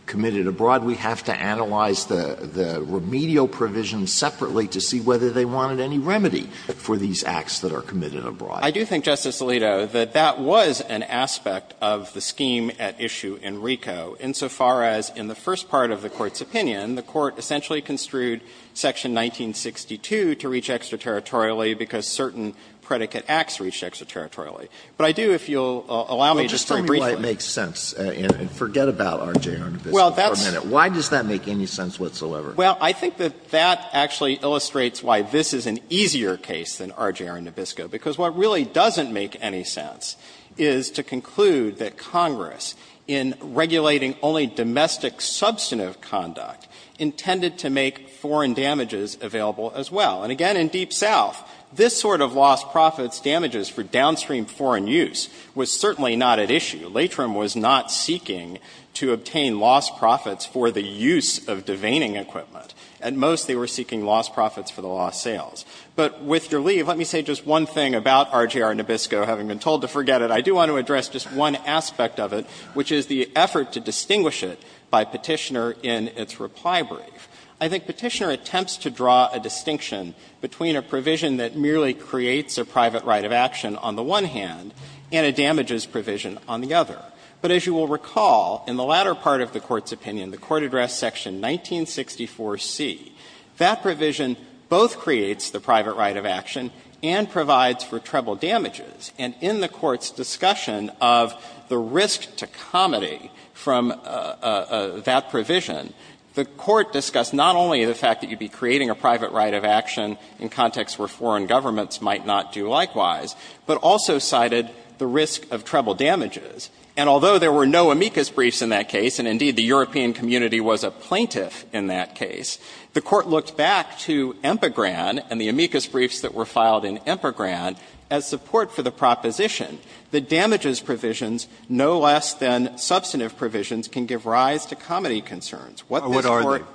committed abroad, we have to analyze the remedial provision separately to see whether they wanted any remedy for these acts that are committed abroad? I do think, Justice Alito, that that was an aspect of the scheme at issue in RICO, insofar as in the first part of the Court's opinion, the Court essentially construed section 1962 to reach extraterritorially because certain predicate acts reached extraterritorially. But I do, if you'll allow me to say briefly why it makes sense, and forget about RGR Nabisco for a minute. Why does that make any sense whatsoever? Well, I think that that actually illustrates why this is an easier case than RGR Nabisco. Because what really doesn't make any sense is to conclude that Congress, in regulating only domestic substantive conduct, intended to make foreign damages available as well. And again, in Deep South, this sort of lost profits damages for downstream foreign use was certainly not at issue. Latrim was not seeking to obtain lost profits for the use of deveining equipment. At most, they were seeking lost profits for the lost sales. But with your leave, let me say just one thing about RGR Nabisco, having been told to forget it. I do want to address just one aspect of it, which is the effort to distinguish it by Petitioner in its reply brief. I think Petitioner attempts to draw a distinction between a provision that merely creates a private right of action on the one hand and a damages provision on the other. But as you will recall, in the latter part of the Court's opinion, the court addressed section 1964C, that provision both creates the private right of action and provides for treble damages. And in the Court's discussion of the risk to comity from that provision, the Court discussed not only the fact that you would be creating a private right of action in contexts where foreign governments might not do likewise, but also cited the risk of treble damages. And although there were no amicus briefs in that case, and indeed the European community was a plaintiff in that case, the Court looked back to EMPAGRAN and the proposition that damages provisions, no less than substantive provisions, can give rise to comity concerns. What this Court ---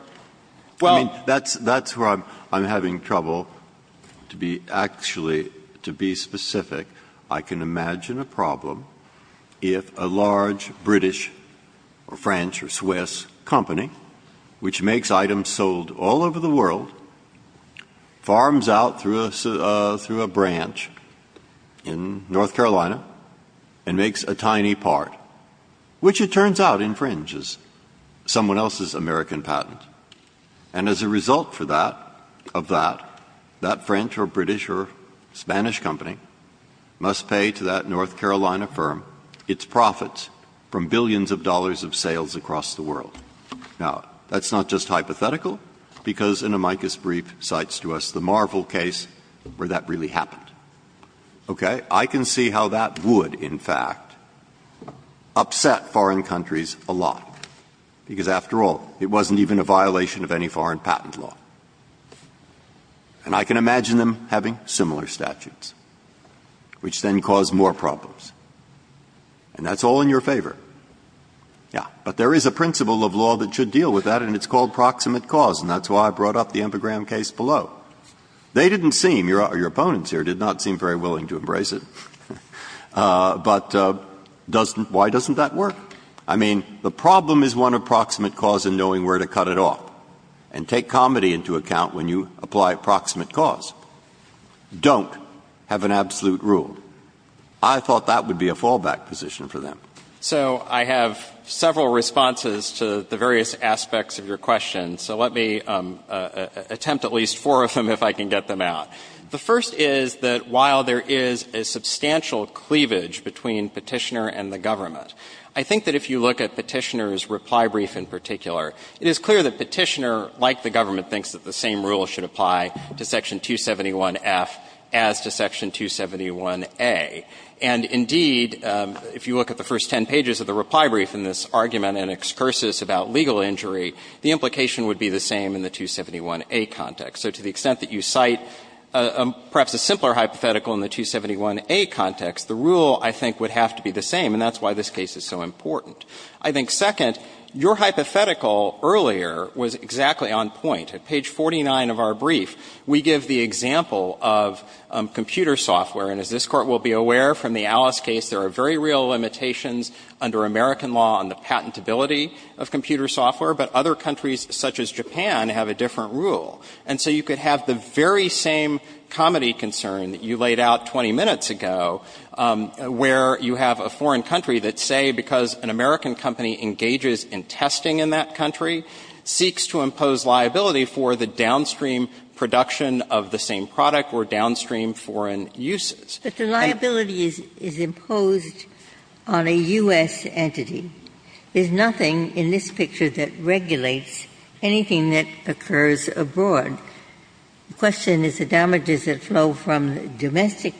Breyer, that's where I'm having trouble to be actually, to be specific. I can imagine a problem if a large British or French or Swiss company, which makes items sold all over the world, farms out through a branch in North Carolina and makes a tiny part, which it turns out infringes someone else's American patent. And as a result for that, of that, that French or British or Spanish company must pay to that North Carolina firm its profits from billions of dollars of sales across the world. Now, that's not just hypothetical, because an amicus brief cites to us the Marvel case where that really happened. Okay? I can see how that would, in fact, upset foreign countries a lot, because after all, it wasn't even a violation of any foreign patent law. And I can imagine them having similar statutes, which then cause more problems. And that's all in your favor. Yeah. But there is a principle of law that should deal with that, and it's called proximate cause. And that's why I brought up the Empegram case below. They didn't seem, your opponents here did not seem very willing to embrace it. But why doesn't that work? I mean, the problem is one of proximate cause and knowing where to cut it off. And take comedy into account when you apply proximate cause. Don't have an absolute rule. I thought that would be a fallback position for them. So I have several responses to the various aspects of your question. So let me attempt at least four of them, if I can get them out. The first is that while there is a substantial cleavage between Petitioner and the government, I think that if you look at Petitioner's reply brief in particular, it is clear that Petitioner, like the government, thinks that the same rule should apply to Section 271F as to Section 271A. And indeed, if you look at the first ten pages of the reply brief in this argument and excursus about legal injury, the implication would be the same in the 271A context. So to the extent that you cite perhaps a simpler hypothetical in the 271A context, the rule, I think, would have to be the same. And that's why this case is so important. I think, second, your hypothetical earlier was exactly on point. At page 49 of our brief, we give the example of computer software. And as this Court will be aware from the Alice case, there are very real limitations under American law on the patentability of computer software, but other countries such as Japan have a different rule. And so you could have the very same comedy concern that you laid out 20 minutes ago, where you have a foreign country that say because an American company engages in testing in that country, seeks to impose liability for the downstream production of the same product or downstream foreign uses. Ginsburg. But the liability is imposed on a U.S. entity. There's nothing in this picture that regulates anything that occurs abroad. The question is the damages that flow from domestic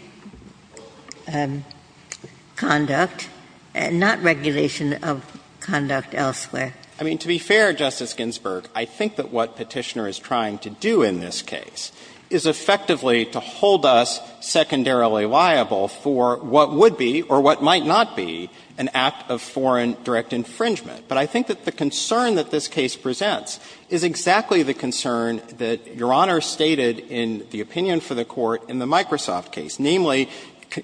conduct, not regulation of conduct elsewhere. I mean, to be fair, Justice Ginsburg, I think that what Petitioner is trying to do in this case is effectively to hold us secondarily liable for what would be or what might not be an act of foreign direct infringement. But I think that the concern that this case presents is exactly the concern that Your Honor stated in the opinion for the Court in the Microsoft case, namely,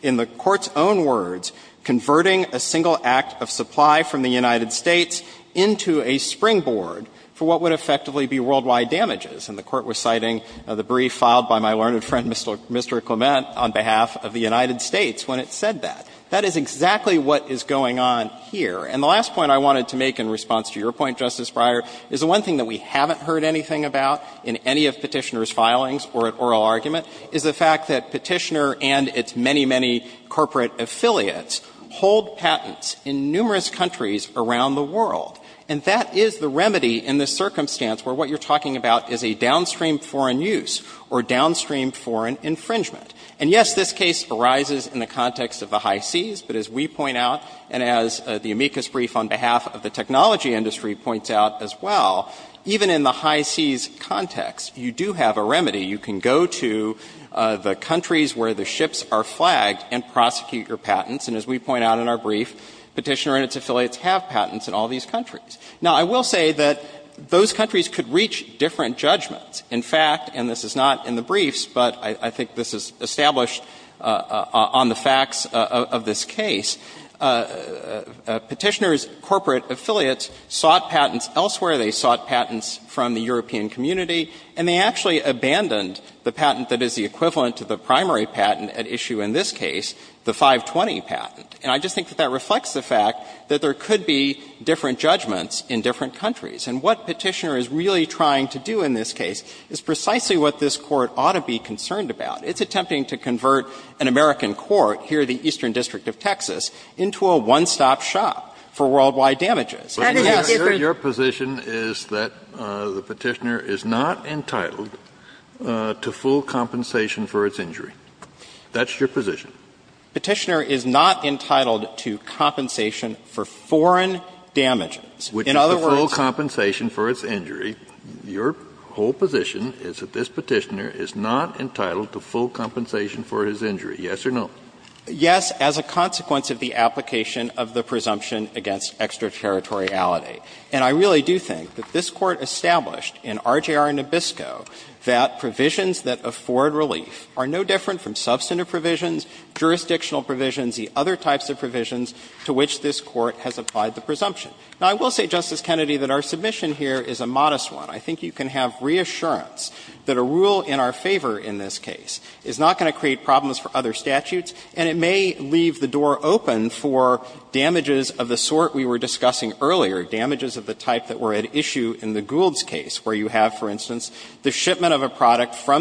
in the Court's own words, converting a single act of supply from the United States into a springboard for what would effectively be worldwide damages. And the Court was citing the brief filed by my learned friend Mr. Clement on behalf of the United States when it said that. That is exactly what is going on here. And the last point I wanted to make in response to your point, Justice Breyer, is the one thing that we haven't heard anything about in any of Petitioner's filings or at oral argument is the fact that Petitioner and its many, many corporate affiliates hold patents in numerous countries around the world. And that is the remedy in this circumstance where what you're talking about is a downstream foreign use or downstream foreign infringement. And, yes, this case arises in the context of the high seas, but as we point out, and as the amicus brief on behalf of the technology industry points out as well, even in the high seas context, you do have a remedy. You can go to the countries where the ships are flagged and prosecute your patents. And as we point out in our brief, Petitioner and its affiliates have patents in all of these countries. Now, I will say that those countries could reach different judgments. In fact, and this is not in the briefs, but I think this is established on the facts of this case, Petitioner's corporate affiliates sought patents elsewhere, they sought patents from the European community, and they actually abandoned the patent that is the equivalent to the primary patent at issue in this case, the 520 patent. And I just think that that reflects the fact that there could be different judgments in different countries. And what Petitioner is really trying to do in this case is precisely what this Court ought to be concerned about. It's attempting to convert an American court, here the Eastern District of Texas, into a one-stop shop for worldwide damages. Kennedy, your position is that the Petitioner is not entitled to full compensation for its injury. That's your position. Petitioner is not entitled to compensation for foreign damages. In other words — Which is the full compensation for its injury. Your whole position is that this Petitioner is not entitled to full compensation for his injury, yes or no? Yes, as a consequence of the application of the presumption against extraterritoriality. And I really do think that this Court established in RJR Nabisco that provisions that afford relief are no different from substantive provisions, jurisdictional provisions, the other types of provisions to which this Court has applied the presumption. Now, I will say, Justice Kennedy, that our submission here is a modest one. I think you can have reassurance that a rule in our favor in this case is not going to create problems for other statutes, and it may leave the door open for damages of the sort we were discussing earlier, damages of the type that were at issue in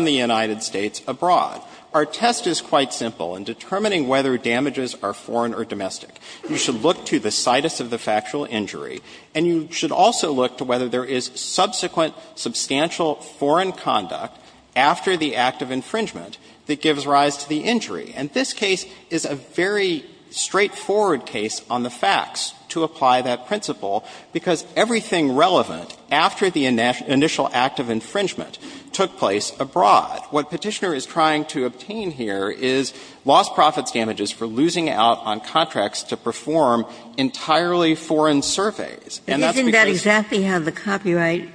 the United States abroad. Our test is quite simple in determining whether damages are foreign or domestic. You should look to the situs of the factual injury, and you should also look to whether there is subsequent substantial foreign conduct after the act of infringement that gives rise to the injury. And this case is a very straightforward case on the facts to apply that principle, because everything relevant after the initial act of infringement took place abroad. What Petitioner is trying to obtain here is lost profits damages for losing out on contracts to perform entirely foreign surveys. And that's because the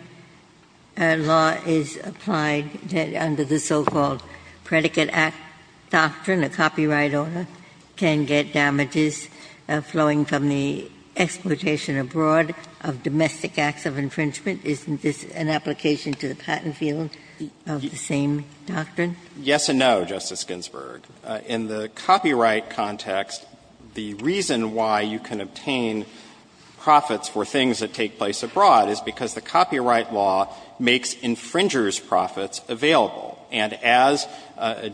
law is applied under the so-called predicate act doctrine. A copyright owner can get damages flowing from the exploitation abroad of domestic acts of infringement. Isn't this an application to the patent field of the same doctrine? Yes and no, Justice Ginsburg. In the copyright context, the reason why you can obtain profits for things that take place abroad is because the copyright law makes infringer's profits available. And as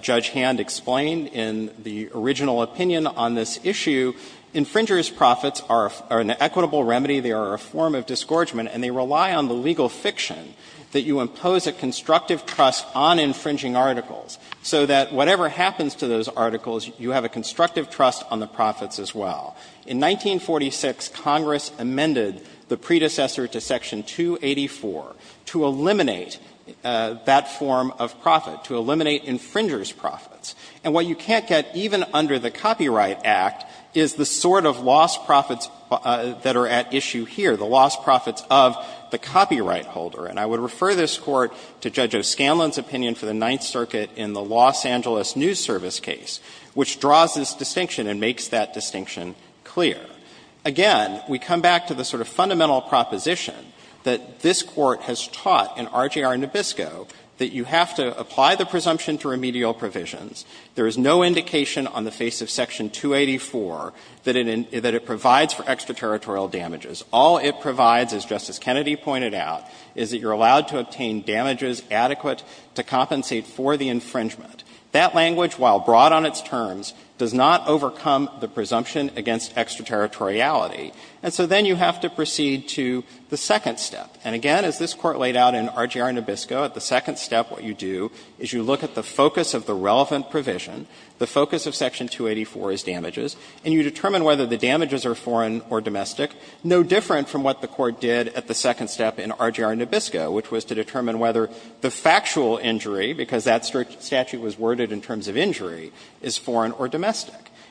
Judge Hand explained in the original opinion on this issue, infringer's profits are an equitable remedy. They are a form of disgorgement, and they rely on the legal fiction that you impose a constructive trust on infringing articles, so that whatever happens to those articles, you have a constructive trust on the profits as well. In 1946, Congress amended the predecessor to Section 284 to eliminate that form of profit, to eliminate infringer's profits. And what you can't get, even under the Copyright Act, is the sort of lost profits that are at issue here, the lost profits of the copyright holder. And I would refer this Court to Judge O'Scanlan's opinion for the Ninth Circuit in the Los Angeles News Service case, which draws this distinction and makes that distinction clear. Again, we come back to the sort of fundamental proposition that this Court has taught in RJR Nabisco that you have to apply the presumption to remedial provisions. There is no indication on the face of Section 284 that it provides for extraterritorial damages. All it provides, as Justice Kennedy pointed out, is that you're allowed to obtain damages adequate to compensate for the infringement. That language, while broad on its terms, does not overcome the presumption against extraterritoriality. And so then you have to proceed to the second step. And again, as this Court laid out in RJR Nabisco, at the second step what you do is you look at the focus of the relevant provision, the focus of Section 284 is damages, and you determine whether the damages are foreign or domestic, no different from what the Court did at the second step in RJR Nabisco, which was to determine whether the factual injury, because that statute was worded in terms of injury, is foreign or domestic.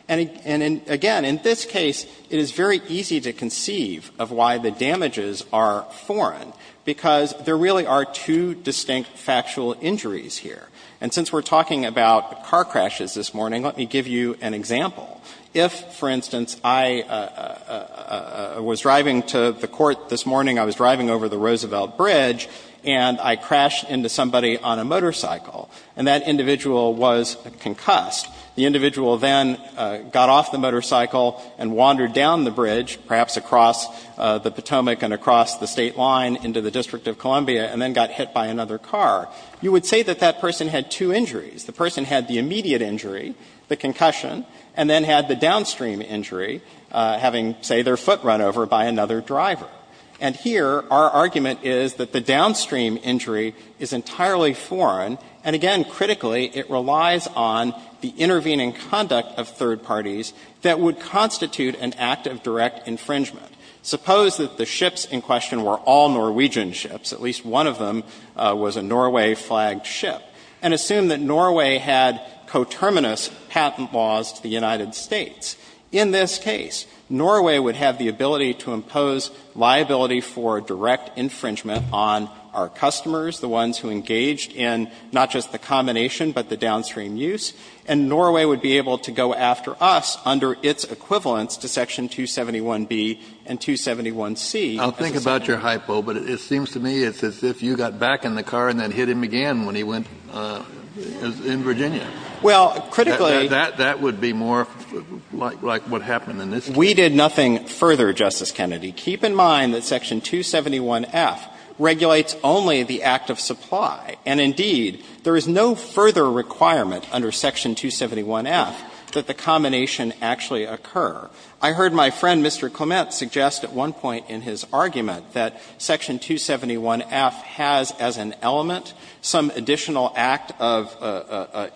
And again, in this case, it is very easy to conceive of why the damages are foreign, because there really are two distinct factual injuries here. And since we're talking about car crashes this morning, let me give you an example. If, for instance, I was driving to the court this morning, I was driving over the Roosevelt Bridge, and I crashed into somebody on a motorcycle, and that individual was concussed, the individual then got off the motorcycle and wandered down the bridge, perhaps across the Potomac and across the State line into the District of Columbia, and then got hit by another car. You would say that that person had two injuries. The person had the immediate injury, the concussion, and then had the downstream injury, having, say, their foot run over by another driver. And here, our argument is that the downstream injury is entirely foreign, and again, critically, it relies on the intervening conduct of third parties that would constitute an act of direct infringement. Suppose that the ships in question were all Norwegian ships, at least one of them was a Norway-flagged ship, and assume that Norway had coterminous patent laws to the United States. In this case, Norway would have the ability to impose liability for direct infringement on our customers, the ones who engaged in not just the combination, but the downstream use, and Norway would be able to go after us under its equivalence to Section 271B and 271C. Kennedy, I'll think about your hypo, but it seems to me as if you got back in the car and then hit him again when he went in Virginia. Well, critically That would be more like what happened in this case. We did nothing further, Justice Kennedy. Keep in mind that Section 271F regulates only the act of supply, and indeed, there is no further requirement under Section 271F that the combination actually occur. I heard my friend, Mr. Clement, suggest at one point in his argument that Section 271F has as an element some additional act of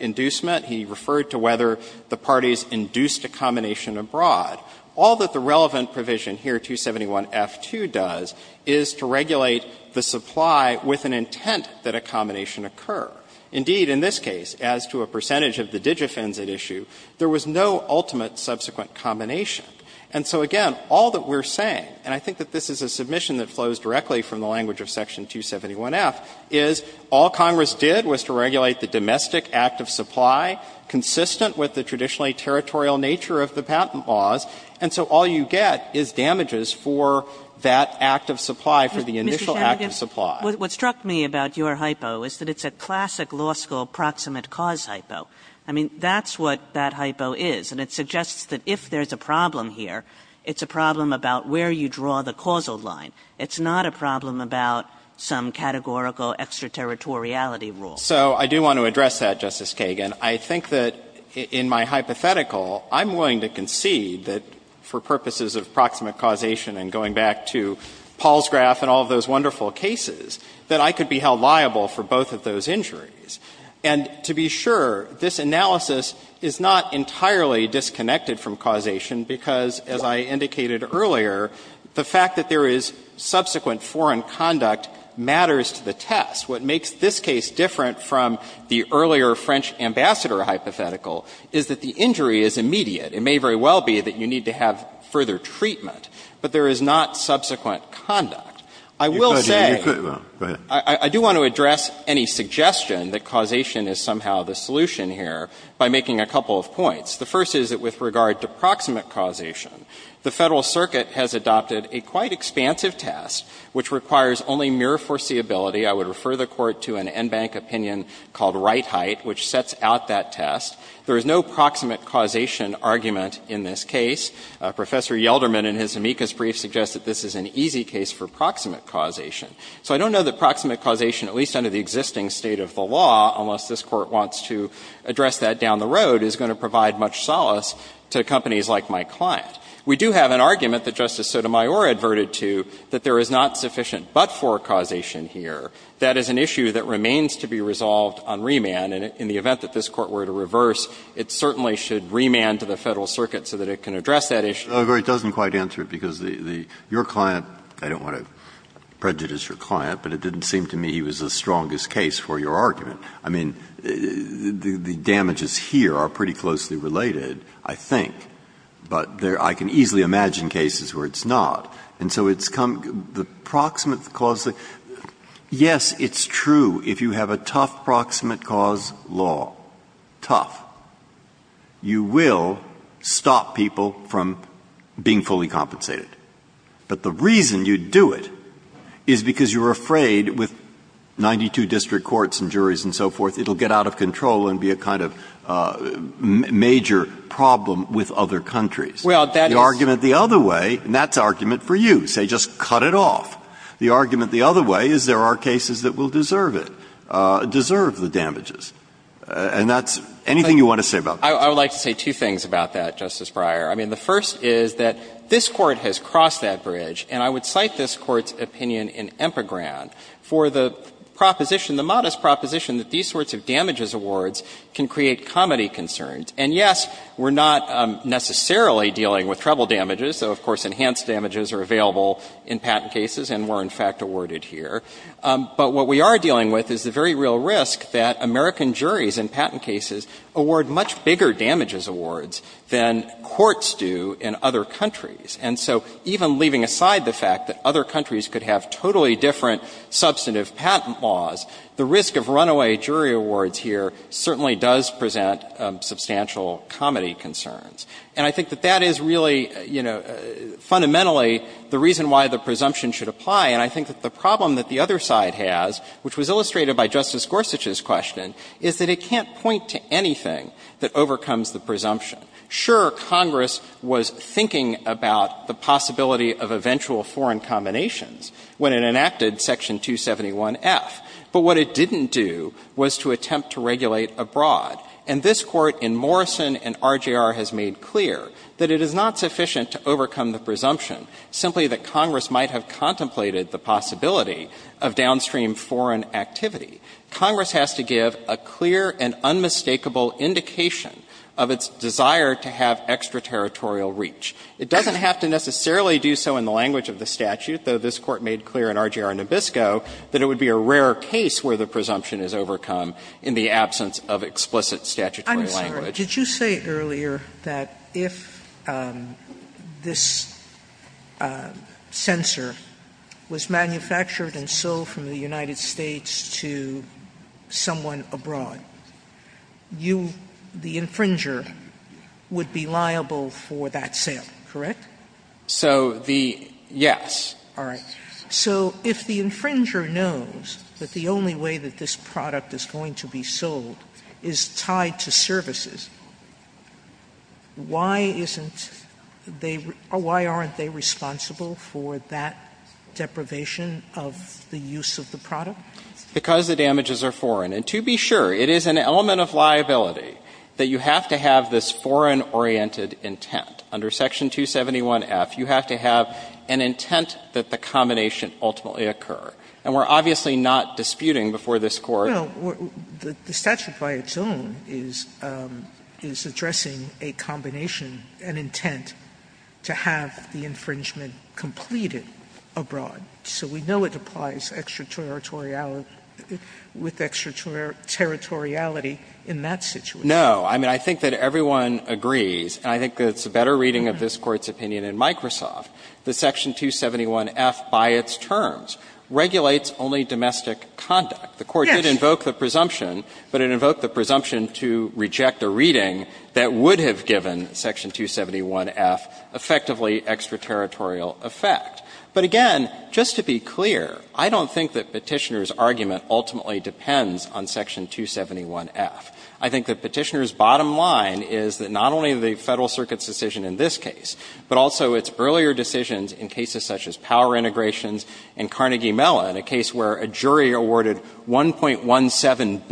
inducement. He referred to whether the parties induced a combination abroad. All that the relevant provision here, 271F2, does is to regulate the supply with an intent that a combination occur. Indeed, in this case, as to a percentage of the digifens at issue, there was no ultimate subsequent combination. And so, again, all that we're saying, and I think that this is a submission that flows directly from the language of Section 271F, is all Congress did was to regulate the domestic act of supply consistent with the traditionally territorial nature of the patent laws, and so all you get is damages for that act of supply, for the initial act of supply. Kagan. What struck me about your hypo is that it's a classic law school proximate cause hypo. I mean, that's what that hypo is, and it suggests that if there's a problem here, it's a problem about where you draw the causal line. It's not a problem about some categorical extraterritoriality rule. So I do want to address that, Justice Kagan. I think that in my hypothetical, I'm willing to concede that for purposes of proximate causation and going back to Paul's graph and all of those wonderful cases, that I could be held liable for both of those injuries. And to be sure, this analysis is not entirely disconnected from causation, because, as I indicated earlier, the fact that there is subsequent foreign conduct matters to the test. What makes this case different from the earlier French ambassador hypothetical is that the injury is immediate. It may very well be that you need to have further treatment, but there is not subsequent conduct. I will say you could. I do want to address any suggestion that causation is somehow the solution here by making a couple of points. The first is that with regard to proximate causation, the Federal Circuit has adopted a quite expansive test which requires only mere foreseeability. I would refer the Court to an en banc opinion called Wright-Hite, which sets out that test. There is no proximate causation argument in this case. Professor Yelderman in his amicus brief suggests that this is an easy case for proximate causation. So I don't know that proximate causation, at least under the existing state of the law, unless this Court wants to address that down the road, is going to provide much solace to companies like my client. We do have an argument that Justice Sotomayor adverted to that there is not sufficient but-for causation here. That is an issue that remains to be resolved on remand. And in the event that this Court were to reverse, it certainly should remand to the Federal Circuit so that it can address that issue. Breyer, it doesn't quite answer it, because your client, I don't want to prejudice your client, but it didn't seem to me he was the strongest case for your argument. I mean, the damages here are pretty closely related, I think, but I can easily imagine cases where it's not. And so it's come to the proximate cause. Yes, it's true. If you have a tough proximate cause law, tough, you will stop people from being fully compensated. But the reason you do it is because you're afraid with 92 district courts and juries and so forth, it will get out of control and be a kind of major problem with other countries. The argument the other way, and that's argument for you, say just cut it off. The argument the other way is there are cases that will deserve it, deserve the damages. And that's anything you want to say about that? I would like to say two things about that, Justice Breyer. I mean, the first is that this Court has crossed that bridge, and I would cite this Court's opinion in Empagran for the proposition, the modest proposition, that these sorts of damages awards can create comity concerns. And yes, we're not necessarily dealing with treble damages, though of course enhanced damages are available in patent cases and were in fact awarded here. But what we are dealing with is the very real risk that American juries in patent cases award much bigger damages awards than courts do in other countries. And so even leaving aside the fact that other countries could have totally different substantive patent laws, the risk of runaway jury awards here certainly does present substantial comity concerns. And I think that that is really, you know, fundamentally the reason why the presumption should apply. And I think that the problem that the other side has, which was illustrated by Justice Gorsuch's question, is that it can't point to anything that overcomes the presumption. Sure, Congress was thinking about the possibility of eventual foreign combinations when it enacted Section 271F. But what it didn't do was to attempt to regulate abroad. And this Court in Morrison and RGR has made clear that it is not sufficient to overcome the presumption simply that Congress might have contemplated the possibility of downstream foreign activity. Congress has to give a clear and unmistakable indication of its desire to have extraterritorial reach. It doesn't have to necessarily do so in the language of the statute, though this Court made clear in RGR and Nabisco that it would be a rare case where the presumption is overcome in the absence of explicit statutory language. Sotomayor, did you say earlier that if this censor was manufactured and sold from the United States to someone abroad, you, the infringer, would be liable for that sale, correct? So the yes. All right. So if the infringer knows that the only way that this product is going to be sold is tied to services, why isn't they or why aren't they responsible for that deprivation of the use of the product? Because the damages are foreign. And to be sure, it is an element of liability that you have to have this foreign-oriented intent. Under Section 271F, you have to have an intent that the combination ultimately occur. And we're obviously not disputing before this Court. Sotomayor, the statute by its own is addressing a combination, an intent to have the infringement completed abroad. So we know it applies extraterritoriality in that situation. No. I mean, I think that everyone agrees, and I think that it's a better reading of this Court's opinion in Microsoft, that Section 271F, by its terms, regulates only domestic conduct. The Court did invoke the presumption, but it invoked the presumption to reject a reading that would have given Section 271F effectively extraterritorial effect. But again, just to be clear, I don't think that Petitioner's argument ultimately depends on Section 271F. I think that Petitioner's bottom line is that not only the Federal Circuit's decision in this case, but also its earlier decisions in cases such as power integrations in Carnegie Mellon, a case where a jury awarded $1.17 billion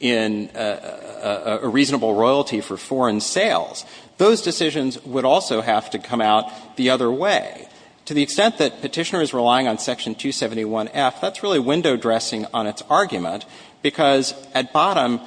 in a reasonable royalty for foreign sales, those decisions would also have to come out the other way. To the extent that Petitioner is relying on Section 271F, that's really window-dressing on its argument, because at bottom,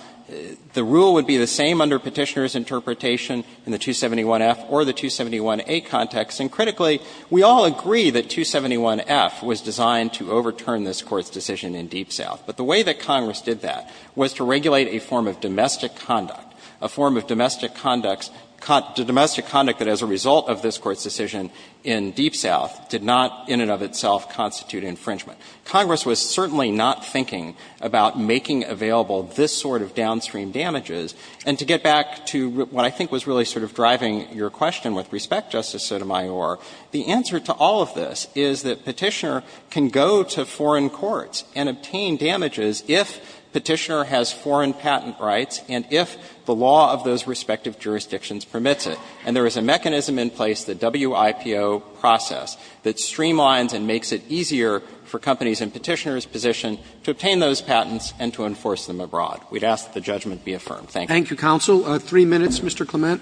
the rule would be the same under Petitioner's interpretation in the 271F or the 271A context. And critically, we all agree that 271F was designed to overturn this Court's decision in Deep South. But the way that Congress did that was to regulate a form of domestic conduct, a form of domestic conduct that as a result of this Court's decision in Deep South did not in and of itself constitute infringement. Congress was certainly not thinking about making available this sort of downstream damages. And to get back to what I think was really sort of driving your question with respect, Justice Sotomayor, the answer to all of this is that Petitioner can go to foreign courts and obtain damages if Petitioner has foreign patent rights and if the law of those respective jurisdictions permits it. And there is a mechanism in place, the WIPO process, that streamlines and makes it in Petitioner's position to obtain those patents and to enforce them abroad. We'd ask that the judgment be affirmed. Thank you. Roberts. Thank you, counsel. Three minutes, Mr. Clement. Clement.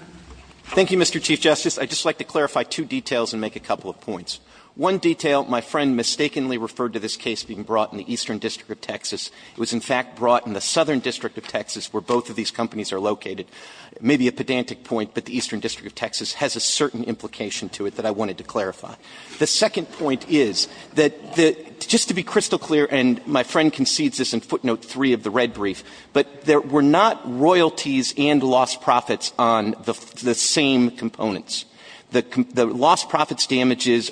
Thank you, Mr. Chief Justice. I'd just like to clarify two details and make a couple of points. One detail, my friend mistakenly referred to this case being brought in the Eastern District of Texas. It was in fact brought in the Southern District of Texas where both of these companies are located. It may be a pedantic point, but the Eastern District of Texas has a certain implication to it that I wanted to clarify. The second point is that the — just to be crystal clear, and my friend concedes this in footnote 3 of the red brief, but there were not royalties and lost profits on the same components. The lost profits damages,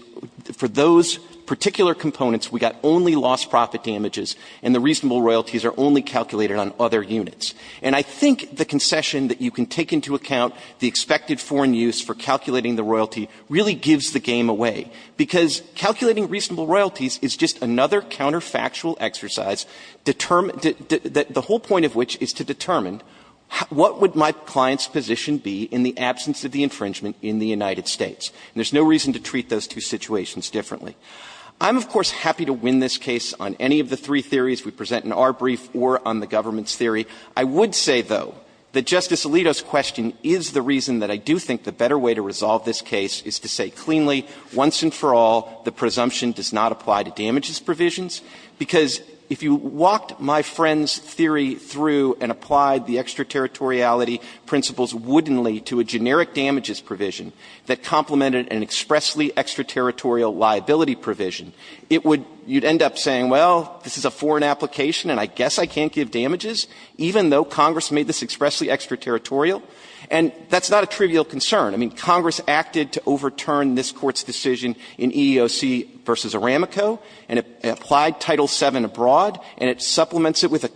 for those particular components, we got only lost profit damages and the reasonable royalties are only calculated on other units. And I think the concession that you can take into account, the expected foreign use for calculating the royalty really gives the game away, because calculating reasonable royalties is just another counterfactual exercise, the whole point of which is to determine what would my client's position be in the absence of the infringement in the United States. And there's no reason to treat those two situations differently. I'm, of course, happy to win this case on any of the three theories we present in our brief or on the government's theory. I would say, though, that Justice Alito's question is the reason that I do think the better way to resolve this case is to say cleanly, once and for all, the presumption does not apply to damages provisions, because if you walked my friend's theory through and applied the extraterritoriality principles woodenly to a generic damages provision that complemented an expressly extraterritorial liability provision, it would — you'd end up saying, well, this is a foreign application and I guess I can't give damages, even though Congress made this expressly extraterritorial. And that's not a trivial concern. I mean, Congress acted to overturn this Court's decision in EEOC v. Aramico and applied Title VII abroad, and it supplements it with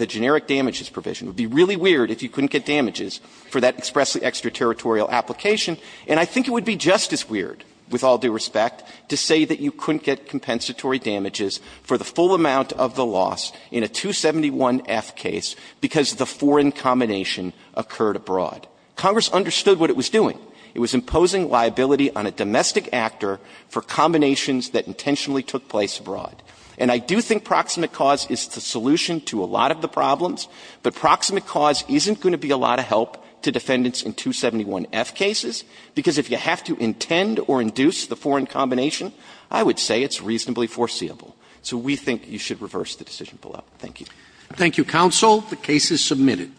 a generic damages provision. It would be really weird if you couldn't get damages for that expressly extraterritorial application. And I think it would be just as weird, with all due respect, to say that you couldn't get compensatory damages for the full amount of the loss in a 271F case because the foreign combination occurred abroad. Congress understood what it was doing. It was imposing liability on a domestic actor for combinations that intentionally took place abroad. And I do think proximate cause is the solution to a lot of the problems, but proximate cause isn't going to be a lot of help to defendants in 271F cases, because if you have to intend or induce the foreign combination, I would say it's reasonably foreseeable. So we think you should reverse the decision below. Thank you. Thank you, counsel. The case is submitted.